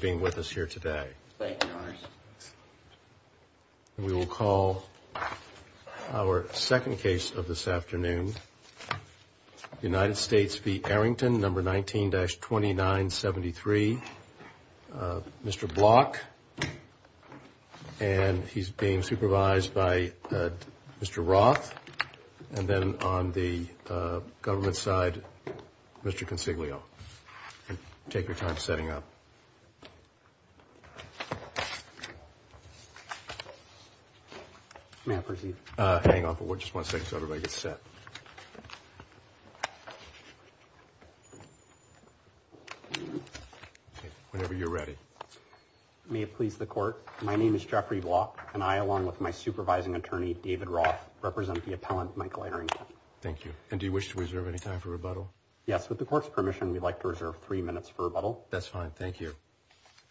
being with us here today. We will call our second case of this afternoon. United States v. Arrington, number 19-2973. Mr. Block. And he's being supervised by Mr. Roth. And then on the government side, Mr. Consiglio. Take your time setting up. May I proceed? Hang on for just one second so everybody gets set. Whenever you're ready. May it please the court. My name is Jeffrey Block, and I, along with my supervising attorney, David Roth, represent the appellant, Michael Arrington. Thank you. And do you wish to reserve any time for rebuttal? Yes, with the court's permission, we'd like to reserve three minutes for rebuttal. That's fine. Thank you.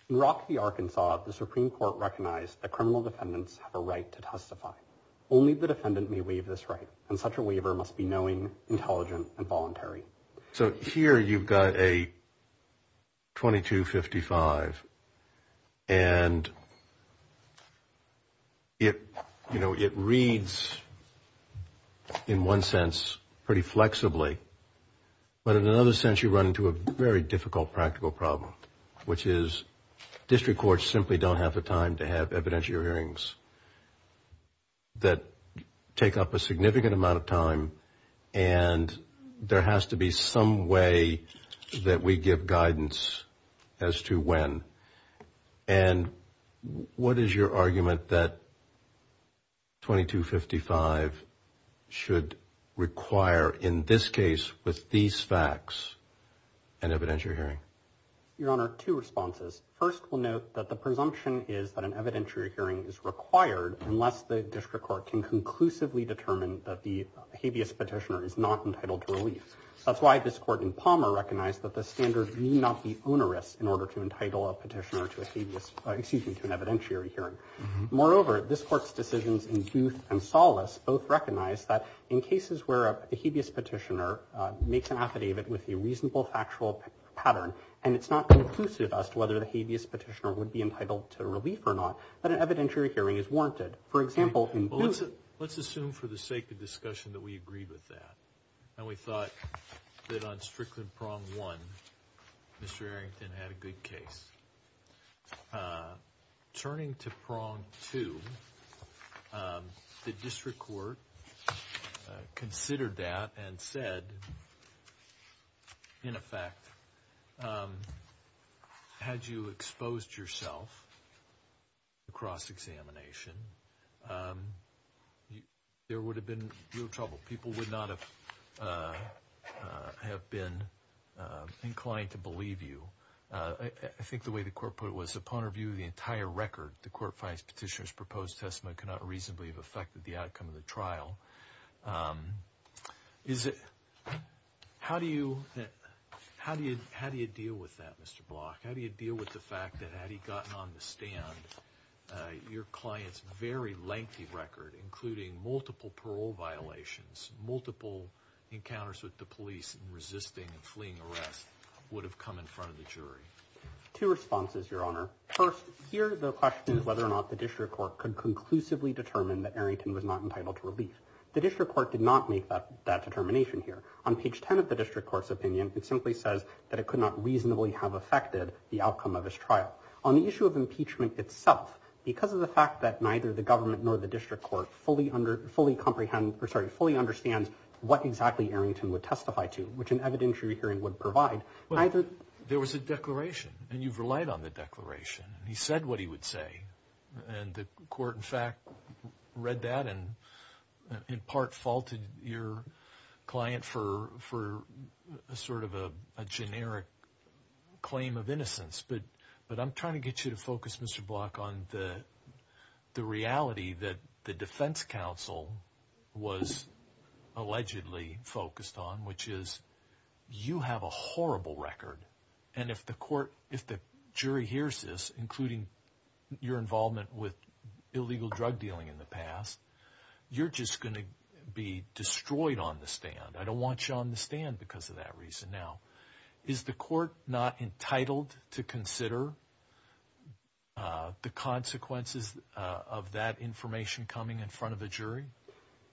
In Rock v. Arkansas, the Supreme Court recognized that criminal defendants have a right to testify. Only the defendant may waive this right, and such a waiver must be knowing, intelligent, and voluntary. So here you've got a 2255. And it reads, in one sense, pretty flexibly. But in another sense, you run into a very difficult practical problem, which is district courts simply don't have the time to have evidentiary hearings that take up a significant amount of time. And there has to be some way that we give guidance as to when. And what is your argument that 2255 should require, in this case, with these facts, an evidentiary hearing? Your Honor, two responses. First, we'll note that the presumption is that an evidentiary hearing is required unless the district court can conclusively determine that the habeas petitioner is not entitled to relief. That's why this court in Palmer recognized that the standard need not be onerous in order to entitle a petitioner to an evidentiary hearing. Moreover, this court's decisions in Booth and Solace both recognize that in cases where a habeas petitioner makes an affidavit with a reasonable factual pattern, and it's not conclusive as to whether the habeas petitioner would be entitled to relief or not, that an evidentiary hearing is warranted. Let's assume for the sake of discussion that we agree with that, and we thought that on Strickland Prong 1, Mr. Arrington had a good case. Turning to Prong 2, the district court considered that and said, in effect, had you exposed yourself to cross-examination, there would have been no trouble. People would not have been inclined to believe you. I think the way the court put it was, upon review of the entire record, the court finds petitioner's proposed testament cannot reasonably have affected the outcome of the trial. How do you deal with that, Mr. Block? How do you deal with the fact that, had he gotten on the stand, your client's very lengthy record, including multiple parole violations, multiple encounters with the police, resisting and fleeing arrest, would have come in front of the jury? Two responses, Your Honor. First, here the question is whether or not the district court could conclusively determine that Arrington was not entitled to relief. The district court did not make that determination here. On page 10 of the district court's opinion, it simply says that it could not reasonably have affected the outcome of his trial. On the issue of impeachment itself, because of the fact that neither the government nor the district court fully understands what exactly Arrington would testify to, which an evidentiary hearing would provide, neither... I'm trying to get you to focus, Mr. Block, on the reality that the defense counsel was allegedly focused on, which is you have a horrible record, and if the jury hears this, including your involvement with illegal drug dealing in the past, you're just going to be destroyed on the stand. I don't want you on the stand because of that reason. Now, is the court not entitled to consider the consequences of that information coming in front of a jury?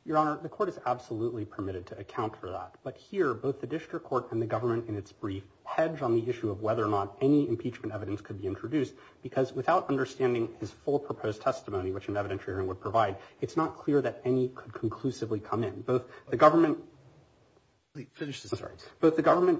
Your Honor, the court is absolutely permitted to account for that. But here, both the district court and the government in its brief hedge on the issue of whether or not any impeachment evidence could be introduced, because without understanding his full proposed testimony, which an evidentiary hearing would provide, it's not clear that any could conclusively come in. Both the government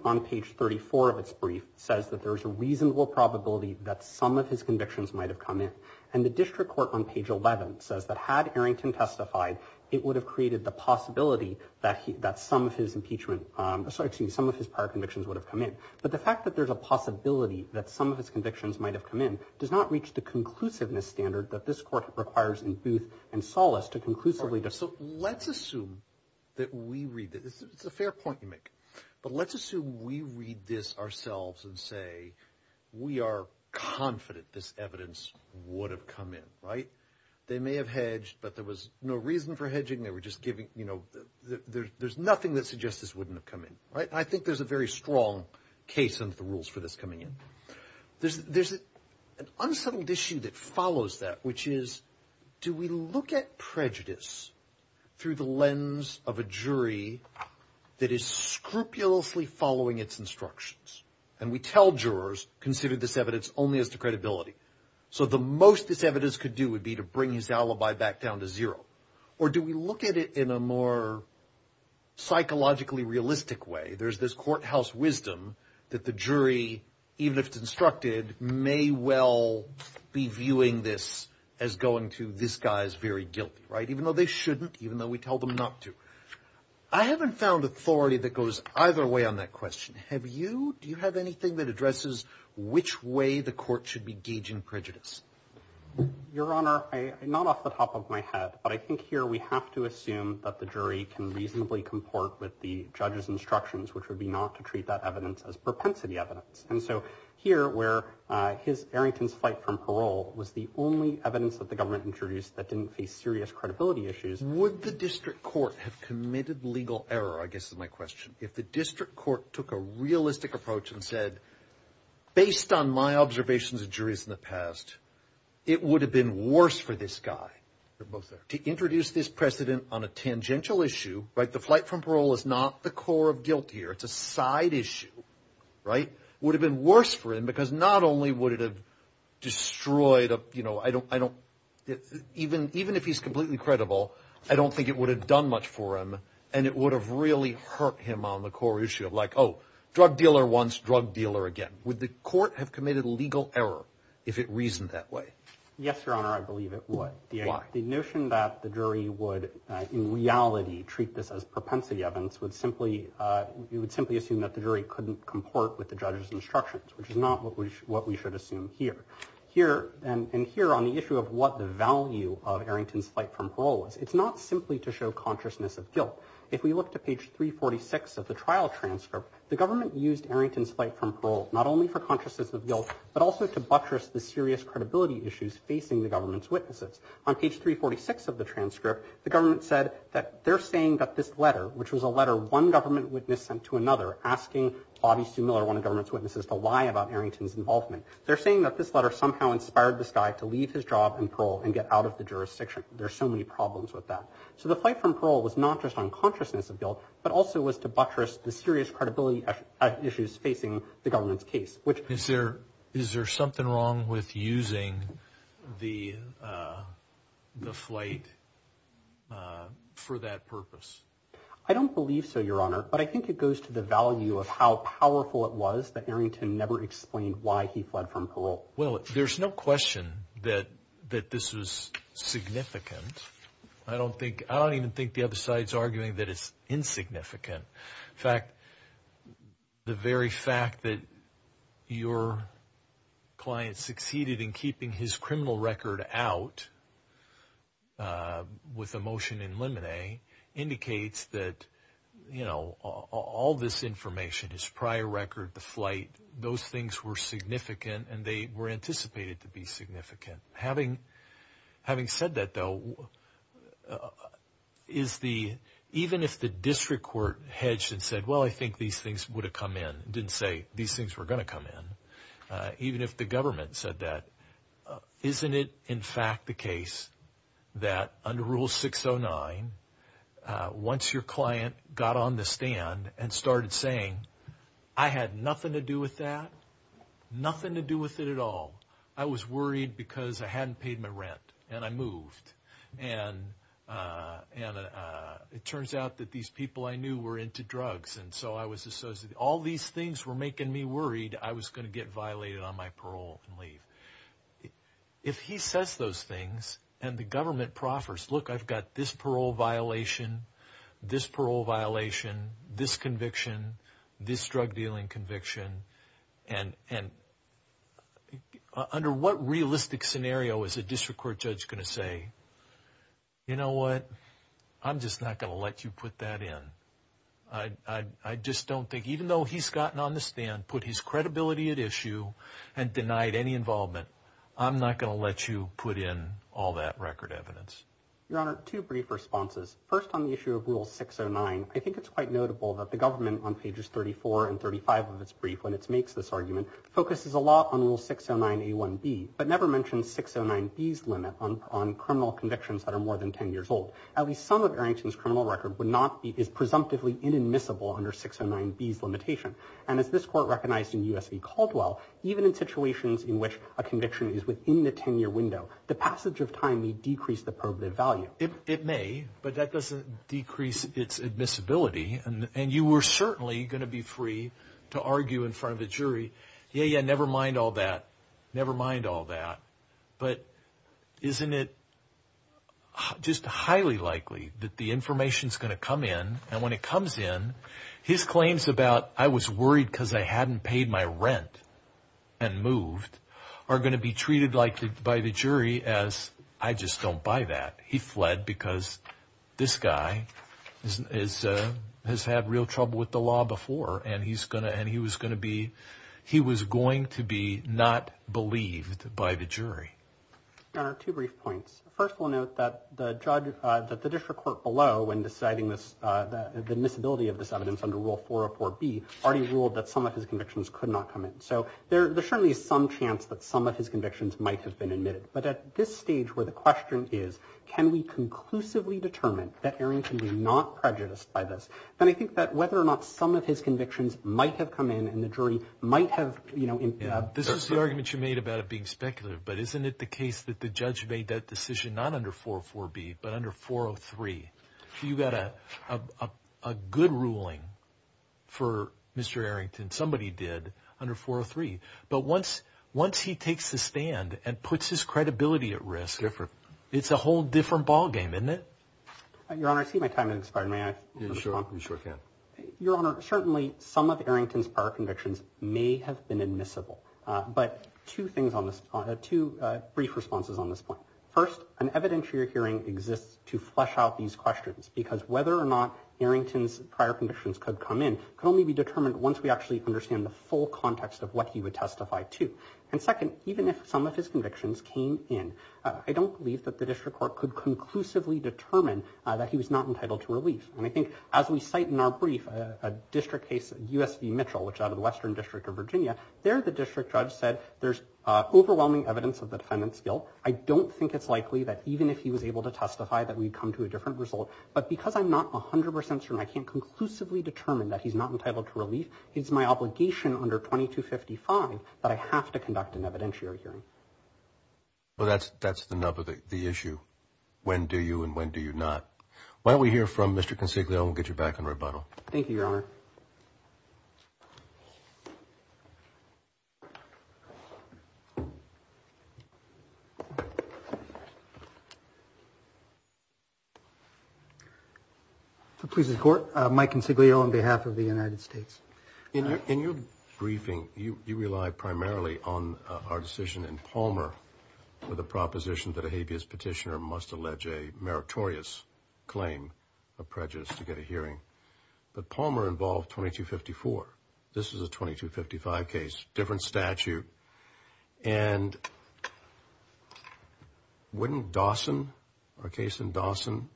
on page 34 of its brief says that there's a reasonable probability that some of his convictions might have come in, and the district court on page 11 says that had Arrington testified, it would have created the possibility that some of his prior convictions would have come in. But the fact that there's a possibility that some of his convictions might have come in does not reach the conclusiveness standard that this court requires in Booth and Solace to conclusively decide. Let's assume that we read this. It's a fair point you make. But let's assume we read this ourselves and say we are confident this evidence would have come in, right? They may have hedged, but there was no reason for hedging. They were just giving, you know, there's nothing that suggests this wouldn't have come in, right? And I think there's a very strong case in the rules for this coming in. There's an unsettled issue that follows that, which is, do we look at prejudice through the lens of a jury that is scrupulously following its instructions? And we tell jurors, consider this evidence only as to credibility. So the most this evidence could do would be to bring his alibi back down to zero. Or do we look at it in a more psychologically realistic way? There's this courthouse wisdom that the jury, even if it's instructed, may well be viewing this as going to this guy's very guilty, right? Even though they shouldn't, even though we tell them not to. I haven't found authority that goes either way on that question. Have you? Do you have anything that addresses which way the court should be gauging prejudice? Your Honor, I'm not off the top of my head, but I think here we have to assume that the jury can reasonably comport with the judge's instructions, which would be not to treat that evidence as propensity evidence. And so here, where his Arrington's flight from parole was the only evidence that the government introduced that didn't face serious credibility issues. Would the district court have committed legal error? I guess my question, if the district court took a realistic approach and said, based on my observations of jurors in the past, it would have been worse for this guy. To introduce this precedent on a tangential issue, right? The flight from parole is not the core of guilt here. It's a side issue, right? Would have been worse for him because not only would it have destroyed, you know, I don't, I don't even, even if he's completely credible, I don't think it would have done much for him and it would have really hurt him on the core issue of like, oh, drug dealer wants drug dealer again. Would the court have committed legal error if it reasoned that way? Yes, Your Honor, I believe it would. The notion that the jury would in reality treat this as propensity evidence would simply, you would simply assume that the jury couldn't comport with the judge's instructions, which is not what we should, what we should assume here, here and here on the issue of what the value of Arrington's flight from parole is. It's not simply to show consciousness of guilt. If we look to page 346 of the trial transcript, the government used Arrington's flight from parole, not only for consciousness of guilt, but also to buttress the serious credibility issues facing the government's witnesses on page 346 of the transcript. The government said that they're saying that this letter, which was a letter one government witness sent to another asking Bobby Sue Miller, one of the government's witnesses, to lie about Arrington's involvement, they're saying that this letter somehow inspired this guy to leave his job in parole and get out of the jurisdiction. There are so many problems with that. So the flight from parole was not just on consciousness of guilt, but also was to buttress the serious credibility issues facing the government's case. Is there something wrong with using the flight for that purpose? I don't believe so, Your Honor, but I think it goes to the value of how powerful it was that Arrington never explained why he fled from parole. Well, there's no question that this was significant. I don't even think the other side is arguing that it's insignificant. In fact, the very fact that your client succeeded in keeping his criminal record out with a motion in limine indicates that, you know, all this information, his prior record, the flight, those things were significant and they were anticipated to be significant. Having said that, though, even if the district court hedged and said, well, I think these things would have come in, didn't say these things were going to come in, even if the government said that, isn't it, in fact, the case that under Rule 609, once your client got on the stand and started saying, I had nothing to do with that, nothing to do with it at all, I was worried because I didn't know what I was doing. I was worried because I hadn't paid my rent and I moved. And it turns out that these people I knew were into drugs and so I was associated. All these things were making me worried I was going to get violated on my parole and leave. If he says those things and the government proffers, look, I've got this parole violation, this parole violation, this conviction, this drug dealing conviction, and under what realistic scenario is a district court judge going to say, you know what, I'm just not going to let you put that in. I just don't think, even though he's gotten on the stand, put his credibility at issue and denied any involvement, I'm not going to let you put in all that record evidence. And as this court recognized in U.S. v. Caldwell, even in situations in which a conviction is within the 10-year window, the passage of time may decrease the probative value. It may, but that doesn't decrease its admissibility and you were certainly going to be free to argue in front of a jury, yeah, yeah, never mind all that, never mind all that, but isn't it just highly likely that the information is going to come in and when it comes in, his claims about I was worried because I hadn't paid my rent and moved are going to be treated by the jury as I just don't buy that. And that's bad because this guy has had real trouble with the law before and he was going to be, he was going to be not believed by the jury. There are two brief points. First, we'll note that the judge, that the district court below when deciding this, the admissibility of this evidence under Rule 404B already ruled that some of his convictions could not come in. So there certainly is some chance that some of his convictions might have been admitted. But at this stage where the question is, can we conclusively determine that Aaron can be not prejudiced by this, then I think that whether or not some of his convictions might have come in and the jury might have, you know. This is the argument you made about it being speculative, but isn't it the case that the judge made that decision not under 404B, but under 403? You got a good ruling for Mr. Arrington. Somebody did under 403. But once once he takes the stand and puts his credibility at risk, it's a whole different ballgame, isn't it? Your Honor, certainly some of Arrington's prior convictions may have been admissible. But two things on this, two brief responses on this point. First, an evidentiary hearing exists to flesh out these questions because whether or not Arrington's prior conditions could come in can only be determined once we actually understand the full context of what he would testify to. And second, even if some of his convictions came in, I don't believe that the district court could conclusively determine that he was not entitled to relief. And I think as we cite in our brief a district case, USV Mitchell, which out of the Western District of Virginia, there the district judge said there's overwhelming evidence of the defendant's guilt. I don't think it's likely that even if he was able to testify that we'd come to a different result. But because I'm not 100 percent certain I can't conclusively determine that he's not entitled to relief, it's my obligation under 2255 that I have to conduct an evidentiary hearing. Well, that's that's the nub of the issue. When do you and when do you not? Why don't we hear from Mr. Consiglio? We'll get you back in rebuttal. Thank you, Your Honor. Please support Mike Consiglio on behalf of the United States. In your briefing, you rely primarily on our decision in Palmer with a proposition that a habeas petitioner must allege a meritorious claim of prejudice to get a hearing. But Palmer involved 2254. This is a 2255 case, different statute. And wouldn't Dawson, a case in Dawson,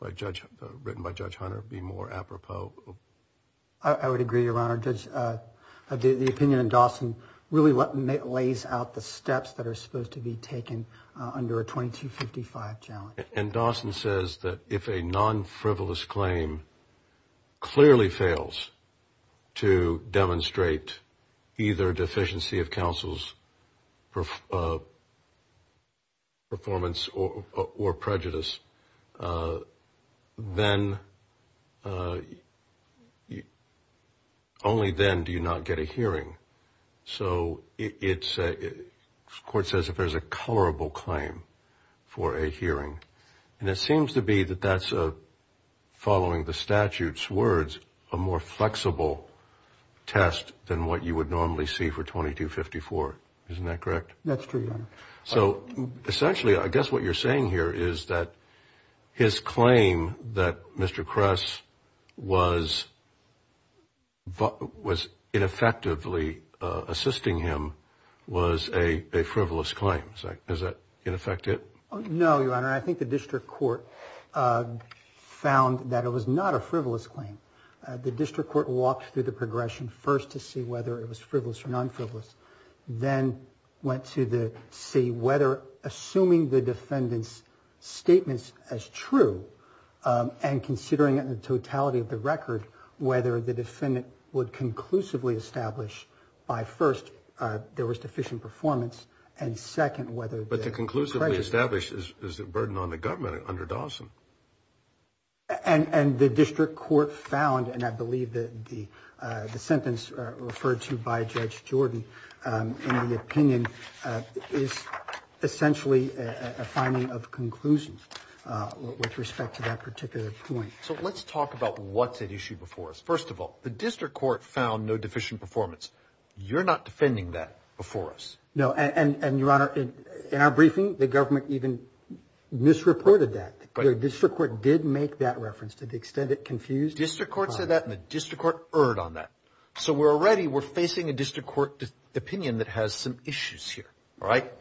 written by Judge Hunter, be more apropos? I would agree, Your Honor. Judge, the opinion in Dawson really lays out the steps that are supposed to be taken under a 2255 challenge. And Dawson says that if a non-frivolous claim clearly fails to demonstrate either deficiency of counsel's performance or prejudice, then only then do you not get a hearing. So the court says if there's a colorable claim for a hearing. And it seems to be that that's following the statute's words, a more flexible test than what you would normally see for 2254. Isn't that correct? That's true, Your Honor. So essentially, I guess what you're saying here is that his claim that Mr. Kress was ineffectively assisting him was a frivolous claim. Is that in effect it? No, Your Honor. I think the district court found that it was not a frivolous claim. The district court walked through the progression first to see whether it was frivolous or non-frivolous. Then went to see whether assuming the defendant's statements as true and considering it in the totality of the record, whether the defendant would conclusively establish by first there was deficient performance and second whether prejudice. But to conclusively establish is a burden on the government under Dawson. And the district court found, and I believe that the sentence referred to by Judge Jordan in the opinion is essentially a finding of conclusions with respect to that particular point. So let's talk about what's at issue before us. First of all, the district court found no deficient performance. You're not defending that before us. No, and Your Honor, in our briefing, the government even misreported that. The district court did make that reference to the extent it confused. District court said that and the district court erred on that. So we're already, we're facing a district court opinion that has some issues here. All right.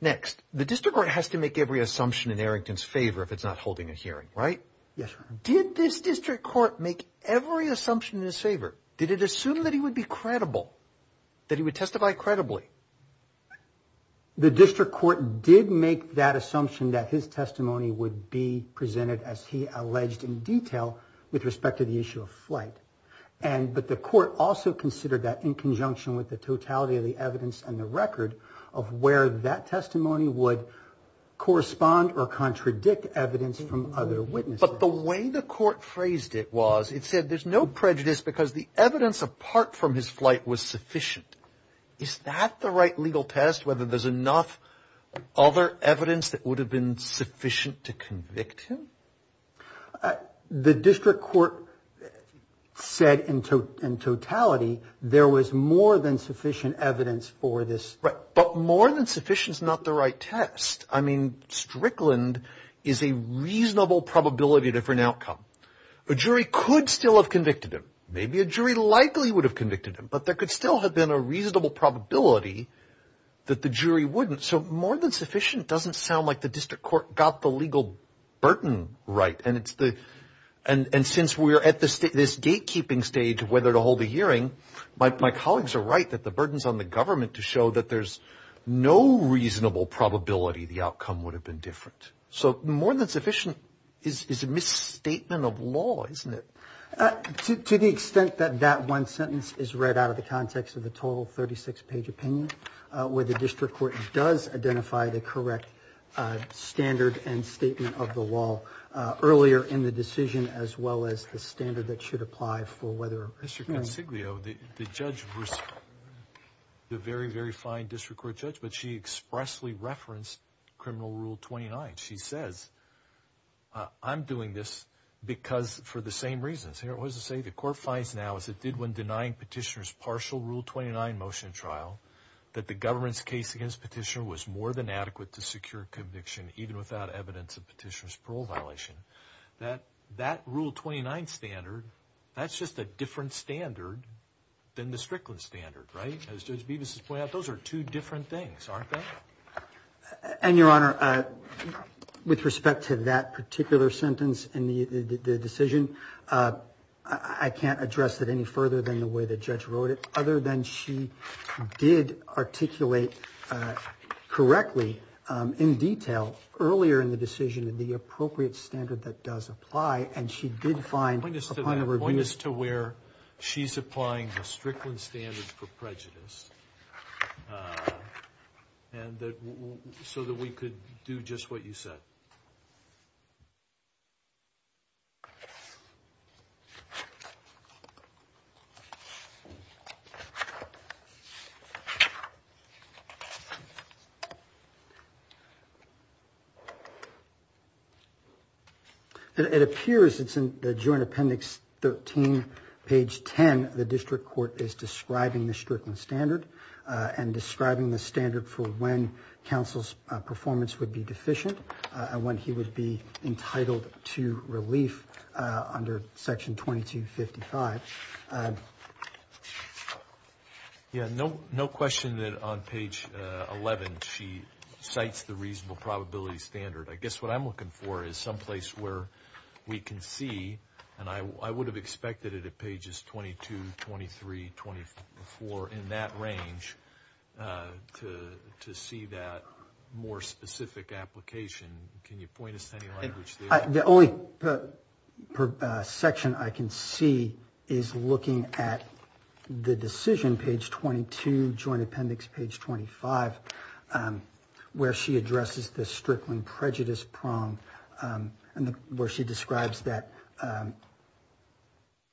Next, the district court has to make every assumption in Errington's favor if it's not holding a hearing, right? Yes, Your Honor. Did this district court make every assumption in his favor? Did it assume that he would be credible, that he would testify credibly? The district court did make that assumption that his testimony would be presented as he alleged in detail with respect to the issue of flight. And but the court also considered that in conjunction with the totality of the evidence and the record of where that testimony would correspond or contradict evidence from other witnesses. But the way the court phrased it was it said there's no prejudice because the evidence apart from his flight was sufficient. Is that the right legal test, whether there's enough other evidence that would have been sufficient to convict him? The district court said in totality there was more than sufficient evidence for this. Right. But more than sufficient is not the right test. I mean, Strickland is a reasonable probability for an outcome. A jury could still have convicted him. Maybe a jury likely would have convicted him, but there could still have been a reasonable probability that the jury wouldn't. So more than sufficient doesn't sound like the district court got the legal burden right. And it's the and since we're at this gatekeeping stage of whether to hold a hearing, my colleagues are right that the burdens on the government to show that there's no reasonable probability the outcome would have been different. So more than sufficient is a misstatement of law, isn't it? To the extent that that one sentence is read out of the context of the total 36 page opinion, where the district court does identify the correct standard and statement of the law earlier in the decision, as well as the standard that should apply for whether Mr. Consiglio, the judge, the very, very fine district court judge. But she expressly referenced criminal rule 29. She says, I'm doing this because for the same reasons it was to say the court finds now, as it did when denying petitioners partial rule 29 motion trial, that the government's case against petitioner was more than adequate to secure conviction, even without evidence of petitioners parole violation, that that rule 29 standard, that's just a different standard than the Strickland standard. Right. Those are two different things, aren't they? And your honor, with respect to that particular sentence in the decision, I can't address it any further than the way the judge wrote it, other than she did articulate correctly in detail earlier in the decision and the appropriate standard that does apply. Point is to where she's applying the Strickland standard for prejudice. And so that we could do just what you said. OK. It appears it's in the joint appendix, 13, page 10. The district court is describing the Strickland standard and describing the standard for when counsel's performance would be deficient and when he would be entitled to relief under section 2255. Yeah, no, no question that on page 11, she cites the reasonable probability standard. I guess what I'm looking for is someplace where we can see. And I would have expected it at pages 22, 23, 24 in that range to see that more specific application. Can you point us to any language? The only section I can see is looking at the decision, page 22, joint appendix, page 25, where she addresses the Strickland prejudice prong, and where she describes that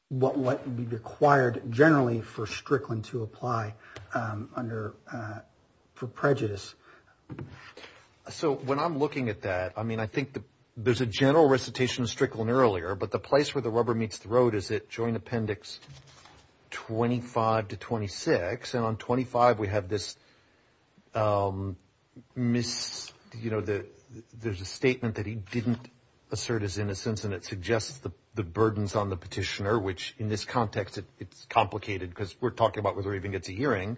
what would be required generally for Strickland to apply under prejudice. So when I'm looking at that, I mean, I think there's a general recitation of Strickland earlier, but the place where the rubber meets the road is at joint appendix 25 to 26. And on 25, we have this, you know, there's a statement that he didn't assert his innocence, and it suggests the burdens on the petitioner, which in this context, it's complicated, because we're talking about whether he even gets a hearing.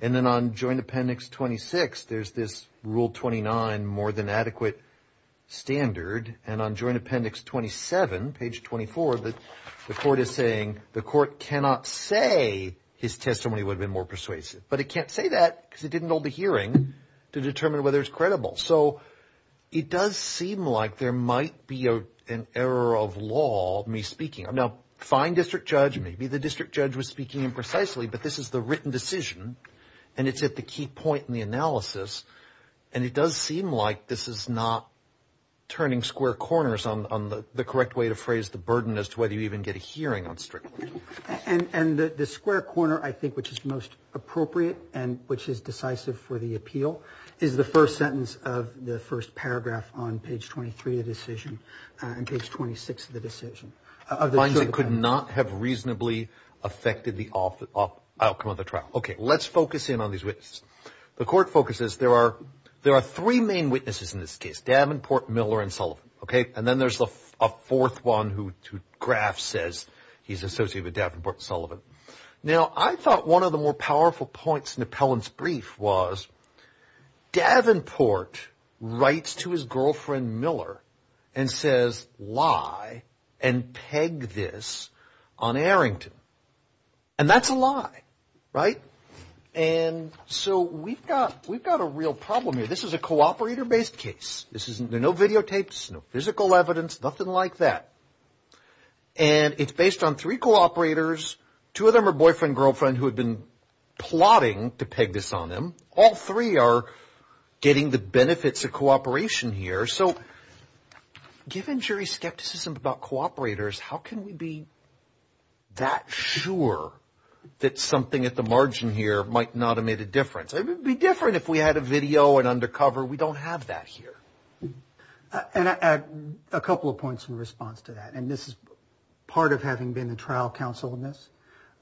And then on joint appendix 26, there's this rule 29, more than adequate standard. And on joint appendix 27, page 24, the court is saying the court cannot say his testimony would have been more persuasive. But it can't say that because it didn't hold a hearing to determine whether it's credible. So it does seem like there might be an error of law, me speaking. Now, fine district judge, maybe the district judge was speaking imprecisely, but this is the written decision, and it's at the key point in the analysis. And it does seem like this is not turning square corners on the correct way to phrase the burden as to whether you even get a hearing on Strickland. And the square corner, I think, which is most appropriate and which is decisive for the appeal, is the first sentence of the first paragraph on page 23 of the decision and page 26 of the decision. It could not have reasonably affected the outcome of the trial. Okay, let's focus in on these witnesses. The court focuses there are three main witnesses in this case, Davenport, Miller, and Sullivan. Okay, and then there's a fourth one who Graf says he's associated with Davenport and Sullivan. Now, I thought one of the more powerful points in Appellant's brief was Davenport writes to his girlfriend Miller and says lie and peg this on Arrington. And that's a lie, right? And so we've got a real problem here. This is a cooperator-based case. There are no videotapes, no physical evidence, nothing like that. And it's based on three cooperators. Two of them are boyfriend and girlfriend who have been plotting to peg this on them. All three are getting the benefits of cooperation here. So given jury skepticism about cooperators, how can we be that sure that something at the margin here might not have made a difference? It would be different if we had a video and undercover. We don't have that here. And a couple of points in response to that, and this is part of having been the trial counsel in this.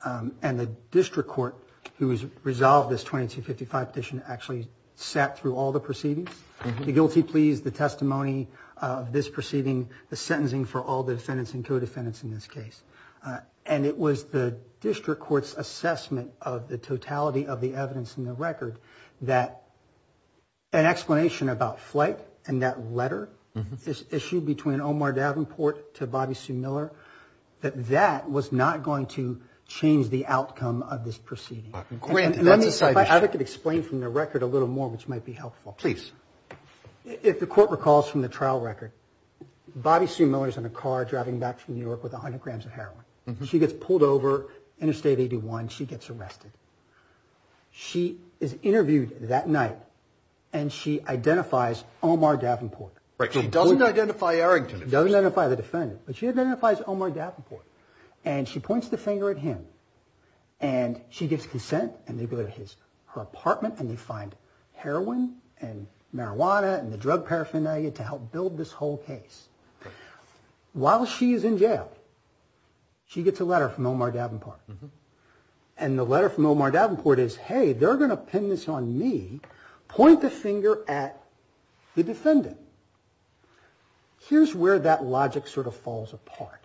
And the district court who has resolved this 2255 petition actually sat through all the proceedings. The guilty pleas, the testimony of this proceeding, the sentencing for all the defendants and co-defendants in this case. And it was the district court's assessment of the totality of the evidence in the record that an explanation about flight and that letter, this issue between Omar Davenport to Bobby Sue Miller, that that was not going to change the outcome of this proceeding. If I could explain from the record a little more, which might be helpful. Please. If the court recalls from the trial record, Bobby Sue Miller is in a car driving back from New York with 100 grams of heroin. She gets pulled over Interstate 81. She gets arrested. She is interviewed that night, and she identifies Omar Davenport. She doesn't identify Errington. She doesn't identify the defendant, but she identifies Omar Davenport. And she points the finger at him, and she gets consent, and they go to her apartment, and they find heroin and marijuana and the drug paraphernalia to help build this whole case. While she is in jail, she gets a letter from Omar Davenport. And the letter from Omar Davenport is, hey, they're going to pin this on me. Point the finger at the defendant. Here's where that logic sort of falls apart.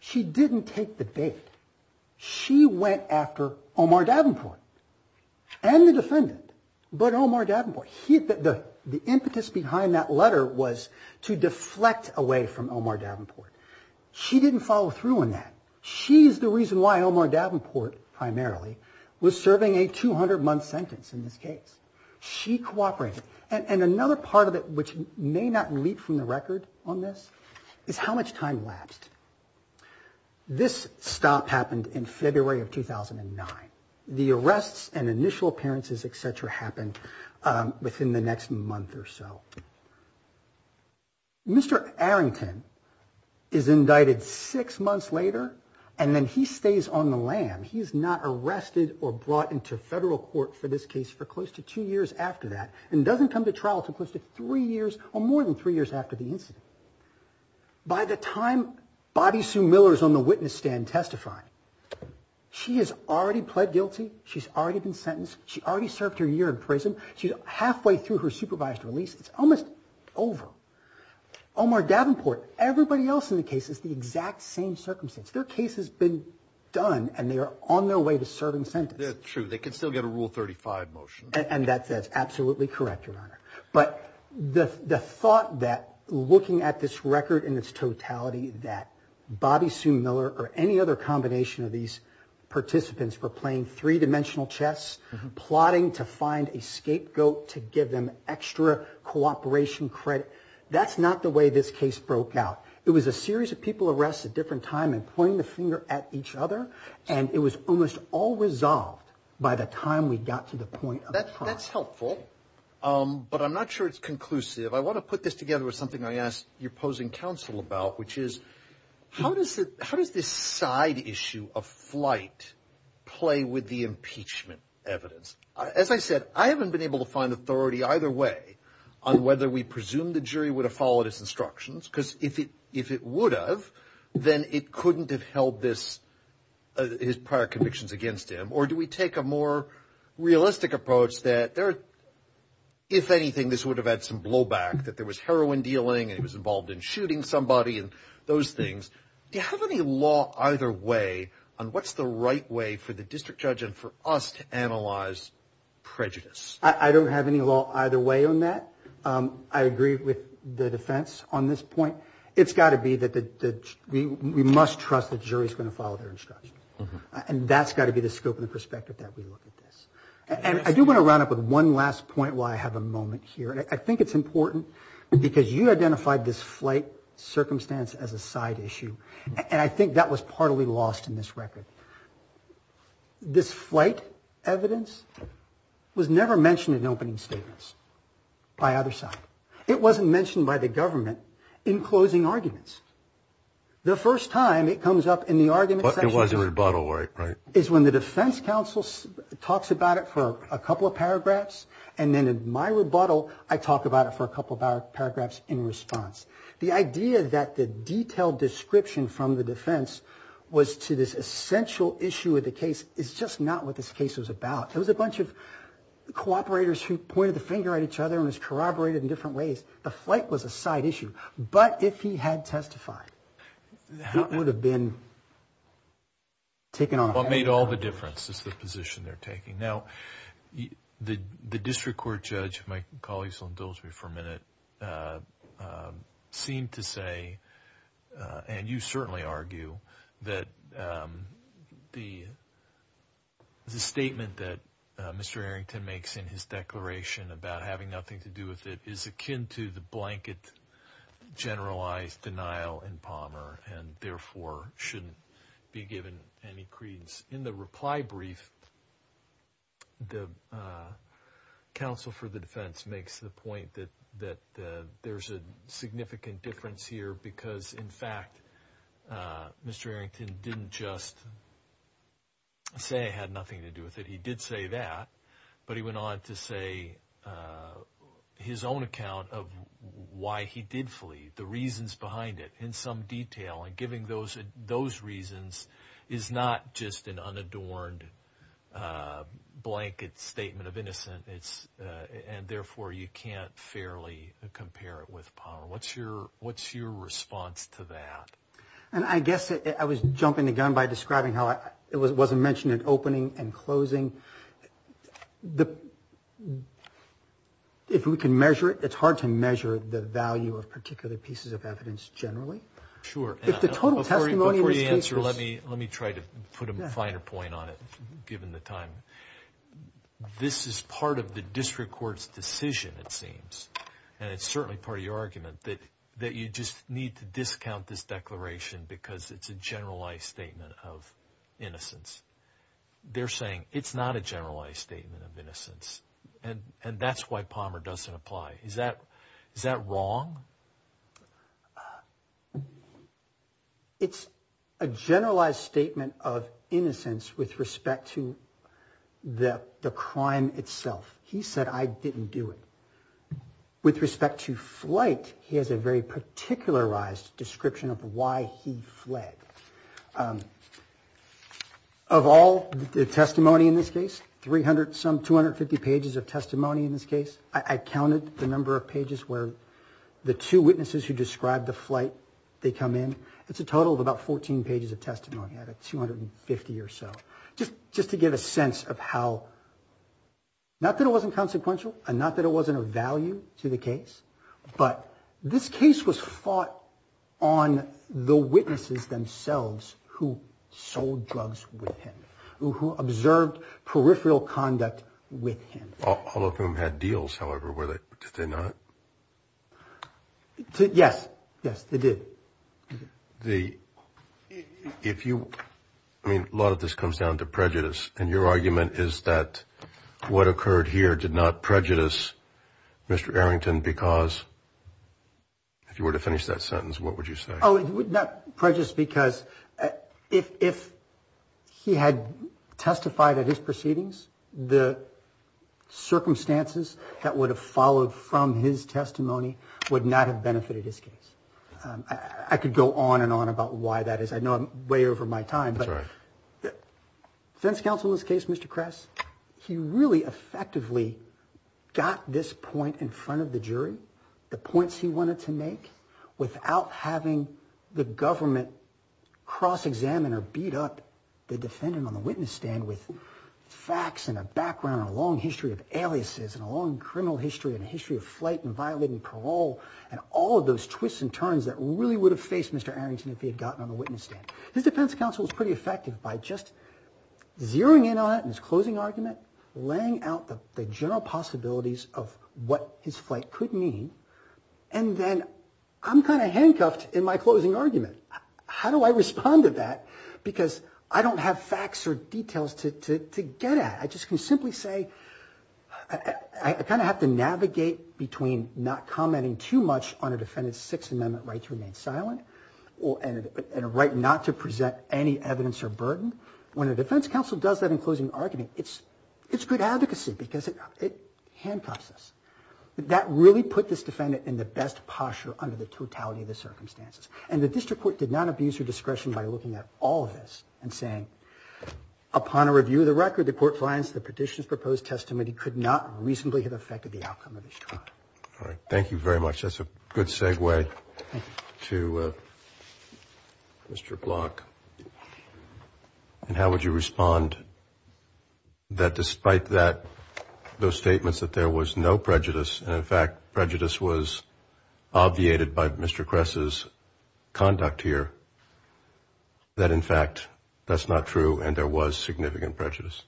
She didn't take the bait. She went after Omar Davenport and the defendant, but Omar Davenport. The impetus behind that letter was to deflect away from Omar Davenport. She didn't follow through on that. She's the reason why Omar Davenport primarily was serving a 200-month sentence in this case. She cooperated. And another part of it which may not leap from the record on this is how much time lapsed. This stop happened in February of 2009. The arrests and initial appearances, et cetera, happened within the next month or so. Mr. Errington is indicted six months later, and then he stays on the lam. He's not arrested or brought into federal court for this case for close to two years after that and doesn't come to trial until close to three years or more than three years after the incident. By the time Bobby Sue Miller is on the witness stand testifying, she has already pled guilty. She's already been sentenced. She already served her year in prison. She's halfway through her supervised release. It's almost over. Omar Davenport, everybody else in the case is the exact same circumstance. Their case has been done, and they are on their way to serving sentence. True. They can still get a Rule 35 motion. And that's absolutely correct, Your Honor. But the thought that looking at this record in its totality that Bobby Sue Miller or any other combination of these participants were playing three-dimensional chess, plotting to find a scapegoat to give them extra cooperation credit, that's not the way this case broke out. It was a series of people arrested at different times and pointing the finger at each other, and it was almost all resolved by the time we got to the point of trial. That's helpful, but I'm not sure it's conclusive. I want to put this together with something I asked your opposing counsel about, which is how does this side issue of flight play with the impeachment evidence? As I said, I haven't been able to find authority either way on whether we presume the jury would have followed its instructions, because if it would have, then it couldn't have held his prior convictions against him. Or do we take a more realistic approach that, if anything, this would have had some blowback, that there was heroin dealing and he was involved in shooting somebody and those things? Do you have any law either way on what's the right way for the district judge and for us to analyze prejudice? I don't have any law either way on that. I agree with the defense on this point. It's got to be that we must trust the jury is going to follow their instructions, and that's got to be the scope and the perspective that we look at this. And I do want to round up with one last point while I have a moment here, and I think it's important because you identified this flight circumstance as a side issue, and I think that was partly lost in this record. This flight evidence was never mentioned in opening statements by either side. It wasn't mentioned by the government in closing arguments. The first time it comes up in the argument section is when the defense counsel talks about it for a couple of paragraphs, and then in my rebuttal, I talk about it for a couple of paragraphs in response. The idea that the detailed description from the defense was to this essential issue of the case is just not what this case was about. It was a bunch of cooperators who pointed the finger at each other and just corroborated in different ways. The flight was a side issue. But if he had testified, it would have been taken on a higher level. What made all the difference is the position they're taking. Now, the district court judge, my colleagues will indulge me for a minute, seemed to say, and you certainly argue, that the statement that Mr. Arrington makes in his declaration about having nothing to do with it is akin to the blanket generalized denial in Palmer and therefore shouldn't be given any credence. In the reply brief, the counsel for the defense makes the point that there's a significant difference here because, in fact, Mr. Arrington didn't just say it had nothing to do with it. He did say that, but he went on to say his own account of why he did flee, the reasons behind it, in some detail, and giving those reasons is not just an unadorned blanket statement of innocence and therefore you can't fairly compare it with Palmer. What's your response to that? And I guess I was jumping the gun by describing how it wasn't mentioned in opening and closing. If we can measure it, it's hard to measure the value of particular pieces of evidence generally. Sure. Before you answer, let me try to put a finer point on it, given the time. This is part of the district court's decision, it seems, and it's certainly part of your argument, that you just need to discount this declaration because it's a generalized statement of innocence. They're saying it's not a generalized statement of innocence, and that's why Palmer doesn't apply. Is that wrong? It's a generalized statement of innocence with respect to the crime itself. He said, I didn't do it. With respect to flight, he has a very particularized description of why he fled. Of all the testimony in this case, some 250 pages of testimony in this case, I counted the number of pages where the two witnesses who described the flight, they come in. It's a total of about 14 pages of testimony, out of 250 or so, just to get a sense of how, not that it wasn't consequential and not that it wasn't of value to the case, but this case was fought on the witnesses themselves who sold drugs with him, who observed peripheral conduct with him. All of whom had deals, however, did they not? Yes, yes, they did. If you, I mean, a lot of this comes down to prejudice, and your argument is that what occurred here did not prejudice Mr. Arrington because, if you were to finish that sentence, what would you say? Oh, it would not prejudice because if he had testified at his proceedings, the circumstances that would have followed from his testimony would not have benefited his case. I could go on and on about why that is. I know I'm way over my time. That's right. But defense counsel in this case, Mr. Kress, he really effectively got this point in front of the jury, the points he wanted to make, without having the government cross-examine or beat up the defendant on the witness stand with facts and a background and a long history of aliases and a long criminal history and a history of flight and violating parole and all of those twists and turns that really would have faced Mr. Arrington if he had gotten on the witness stand. His defense counsel was pretty effective by just zeroing in on it in his closing argument, laying out the general possibilities of what his flight could mean, and then I'm kind of handcuffed in my closing argument. How do I respond to that? Because I don't have facts or details to get at. I just can simply say I kind of have to navigate between not commenting too much on a defendant's Sixth Amendment right to remain silent and a right not to present any evidence or burden. When a defense counsel does that in closing argument, it's good advocacy because it handcuffs us. That really put this defendant in the best posture under the totality of the circumstances, and the district court did not abuse her discretion by looking at all of this and saying, upon a review of the record, the court finds the petitioner's proposed testimony could not reasonably have affected the outcome of his trial. All right. Thank you very much. That's a good segue to Mr. Block. And how would you respond that despite those statements that there was no prejudice and, in fact, prejudice was obviated by Mr. Kress's conduct here, that, in fact, that's not true and there was significant prejudice?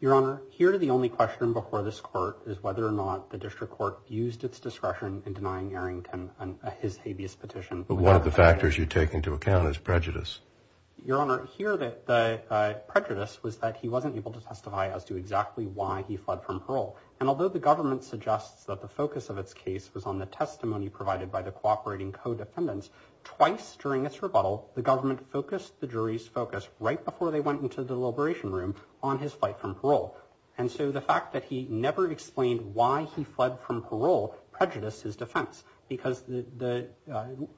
Your Honor, here the only question before this court is whether or not the district court used its discretion in denying Arrington his habeas petition. But one of the factors you take into account is prejudice. Your Honor, here the prejudice was that he wasn't able to testify as to exactly why he fled from parole. And although the government suggests that the focus of its case was on the testimony provided by the cooperating co-defendants, twice during its rebuttal the government focused the jury's focus right before they went into the deliberation room on his flight from parole. And so the fact that he never explained why he fled from parole prejudiced his defense because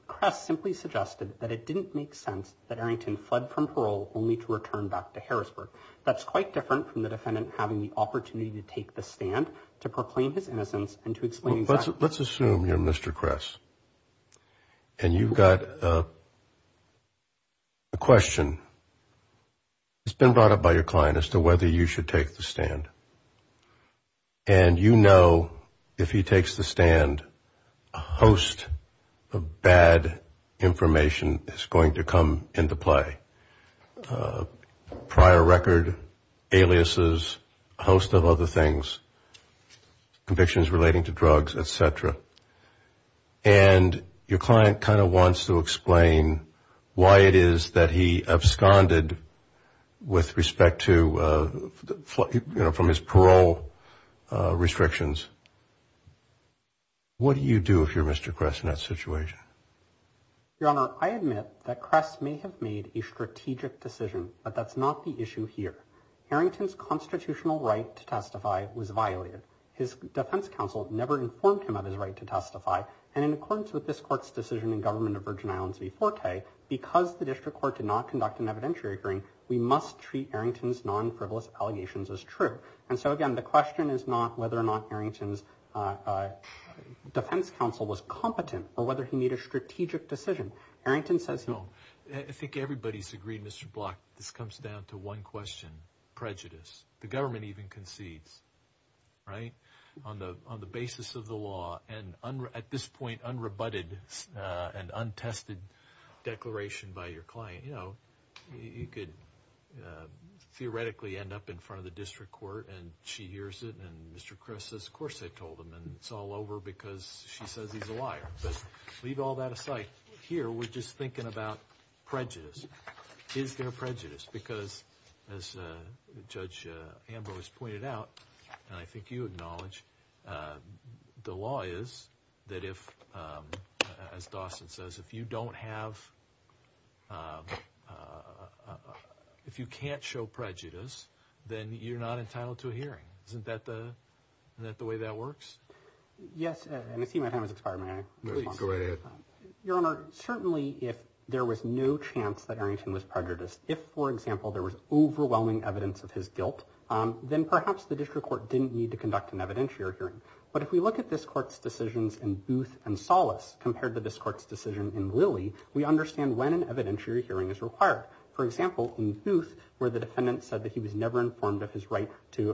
Kress simply suggested that it didn't make sense that Arrington fled from parole only to return back to Harrisburg. That's quite different from the defendant having the opportunity to take the stand to proclaim his innocence and to explain his actions. Let's assume you're Mr. Kress and you've got a question. It's been brought up by your client as to whether you should take the stand. And you know if he takes the stand a host of bad information is going to come into play. Prior record, aliases, a host of other things, convictions relating to drugs, et cetera. And your client kind of wants to explain why it is that he absconded with respect to, you know, from his parole restrictions. What do you do if you're Mr. Kress in that situation? Your Honor, I admit that Kress may have made a strategic decision, but that's not the issue here. Arrington's constitutional right to testify was violated. His defense counsel never informed him of his right to testify. And in accordance with this court's decision in government of Virgin Islands before K, because the district court did not conduct an evidentiary hearing, we must treat Arrington's non-frivolous allegations as true. And so again, the question is not whether or not Arrington's defense counsel was competent or whether he made a strategic decision. Arrington says no. I think everybody's agreed, Mr. Block, this comes down to one question, prejudice. The government even concedes, right, on the basis of the law. And at this point, unrebutted and untested declaration by your client. You know, you could theoretically end up in front of the district court and she hears it. And Mr. Kress says, of course I told him. And it's all over because she says he's a liar. But leave all that aside. Here we're just thinking about prejudice. Is there prejudice? Because as Judge Ambrose pointed out, and I think you acknowledge, the law is that if, as Dawson says, if you don't have, if you can't show prejudice, then you're not entitled to a hearing. Isn't that the, isn't that the way that works? Yes. And I see my time has expired, may I? Please. Go ahead. Your Honor, certainly if there was no chance that Arrington was prejudiced, if, for example, there was overwhelming evidence of his guilt, then perhaps the district court didn't need to conduct an evidentiary hearing. But if we look at this court's decisions in Booth and Solace compared to this court's decision in Lilly, we understand when an evidentiary hearing is required. For example, in Booth, where the defendant said that he was never informed of his right to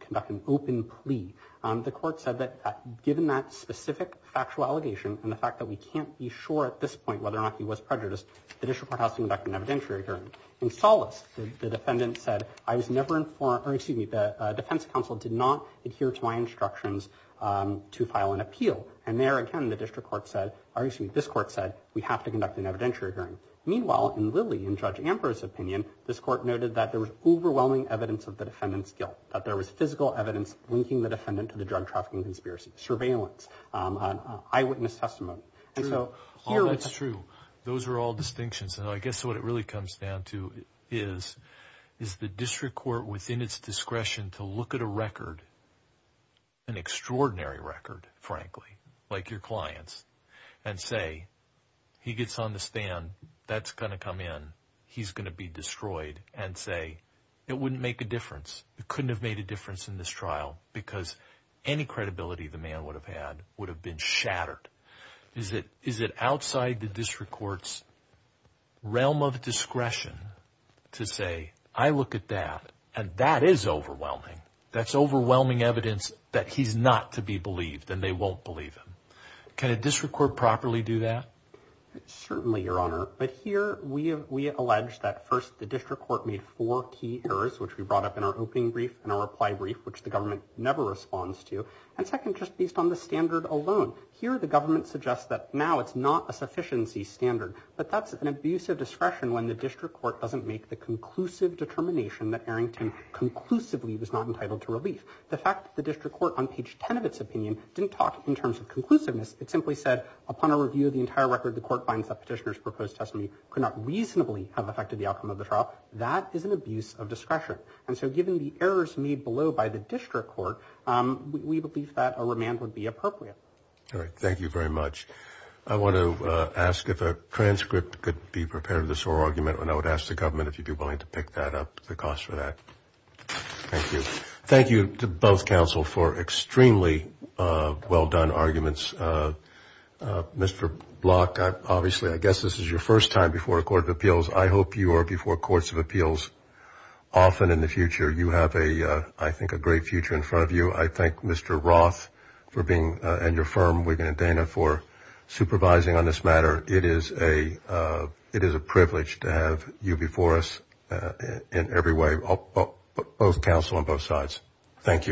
conduct an open plea, the court said that given that specific factual allegation and the fact that we can't be sure at this point whether or not he was prejudiced, the district court has to conduct an evidentiary hearing. In Solace, the defendant said, I was never informed, or excuse me, the defense counsel did not adhere to my instructions to file an appeal. And there again, the district court said, or excuse me, this court said, we have to conduct an evidentiary hearing. Meanwhile, in Lilly, in Judge Ambrose's opinion, this court noted that there was overwhelming evidence of the defendant's guilt, that there was physical evidence linking the defendant to the drug trafficking conspiracy. Surveillance, eyewitness testimony. And so here we have... That's true. Those are all distinctions. And I guess what it really comes down to is, is the district court within its discretion to look at a record, an extraordinary record, frankly, like your client's, and say, he gets on the stand, that's going to come in, he's going to be destroyed, and say, it wouldn't make a difference. It couldn't have made a difference in this trial, because any credibility the man would have had would have been shattered. Is it outside the district court's realm of discretion to say, I look at that, and that is overwhelming. That's overwhelming evidence that he's not to be believed, and they won't believe him. Can a district court properly do that? Certainly, Your Honor. But here we allege that, first, the district court made four key errors, which we brought up in our opening brief and our reply brief, which the government never responds to. And second, just based on the standard alone, here the government suggests that now it's not a sufficiency standard. But that's an abuse of discretion when the district court doesn't make the conclusive determination that Arrington conclusively was not entitled to relief. The fact that the district court on page 10 of its opinion didn't talk in terms of conclusiveness. It simply said, upon a review of the entire record, the court finds that petitioner's proposed testimony could not reasonably have affected the outcome of the trial. That is an abuse of discretion. And so given the errors made below by the district court, we believe that a remand would be appropriate. All right. Thank you very much. I want to ask if a transcript could be prepared of this whole argument, and I would ask the government if you'd be willing to pick that up, the cost for that. Thank you. Thank you to both counsel for extremely well-done arguments. Mr. Block, obviously I guess this is your first time before a court of appeals. I hope you are before courts of appeals often in the future. You have, I think, a great future in front of you. I thank Mr. Roth and your firm, Wiggin and Dana, for supervising on this matter. It is a privilege to have you before us in every way, both counsel on both sides. Thanks.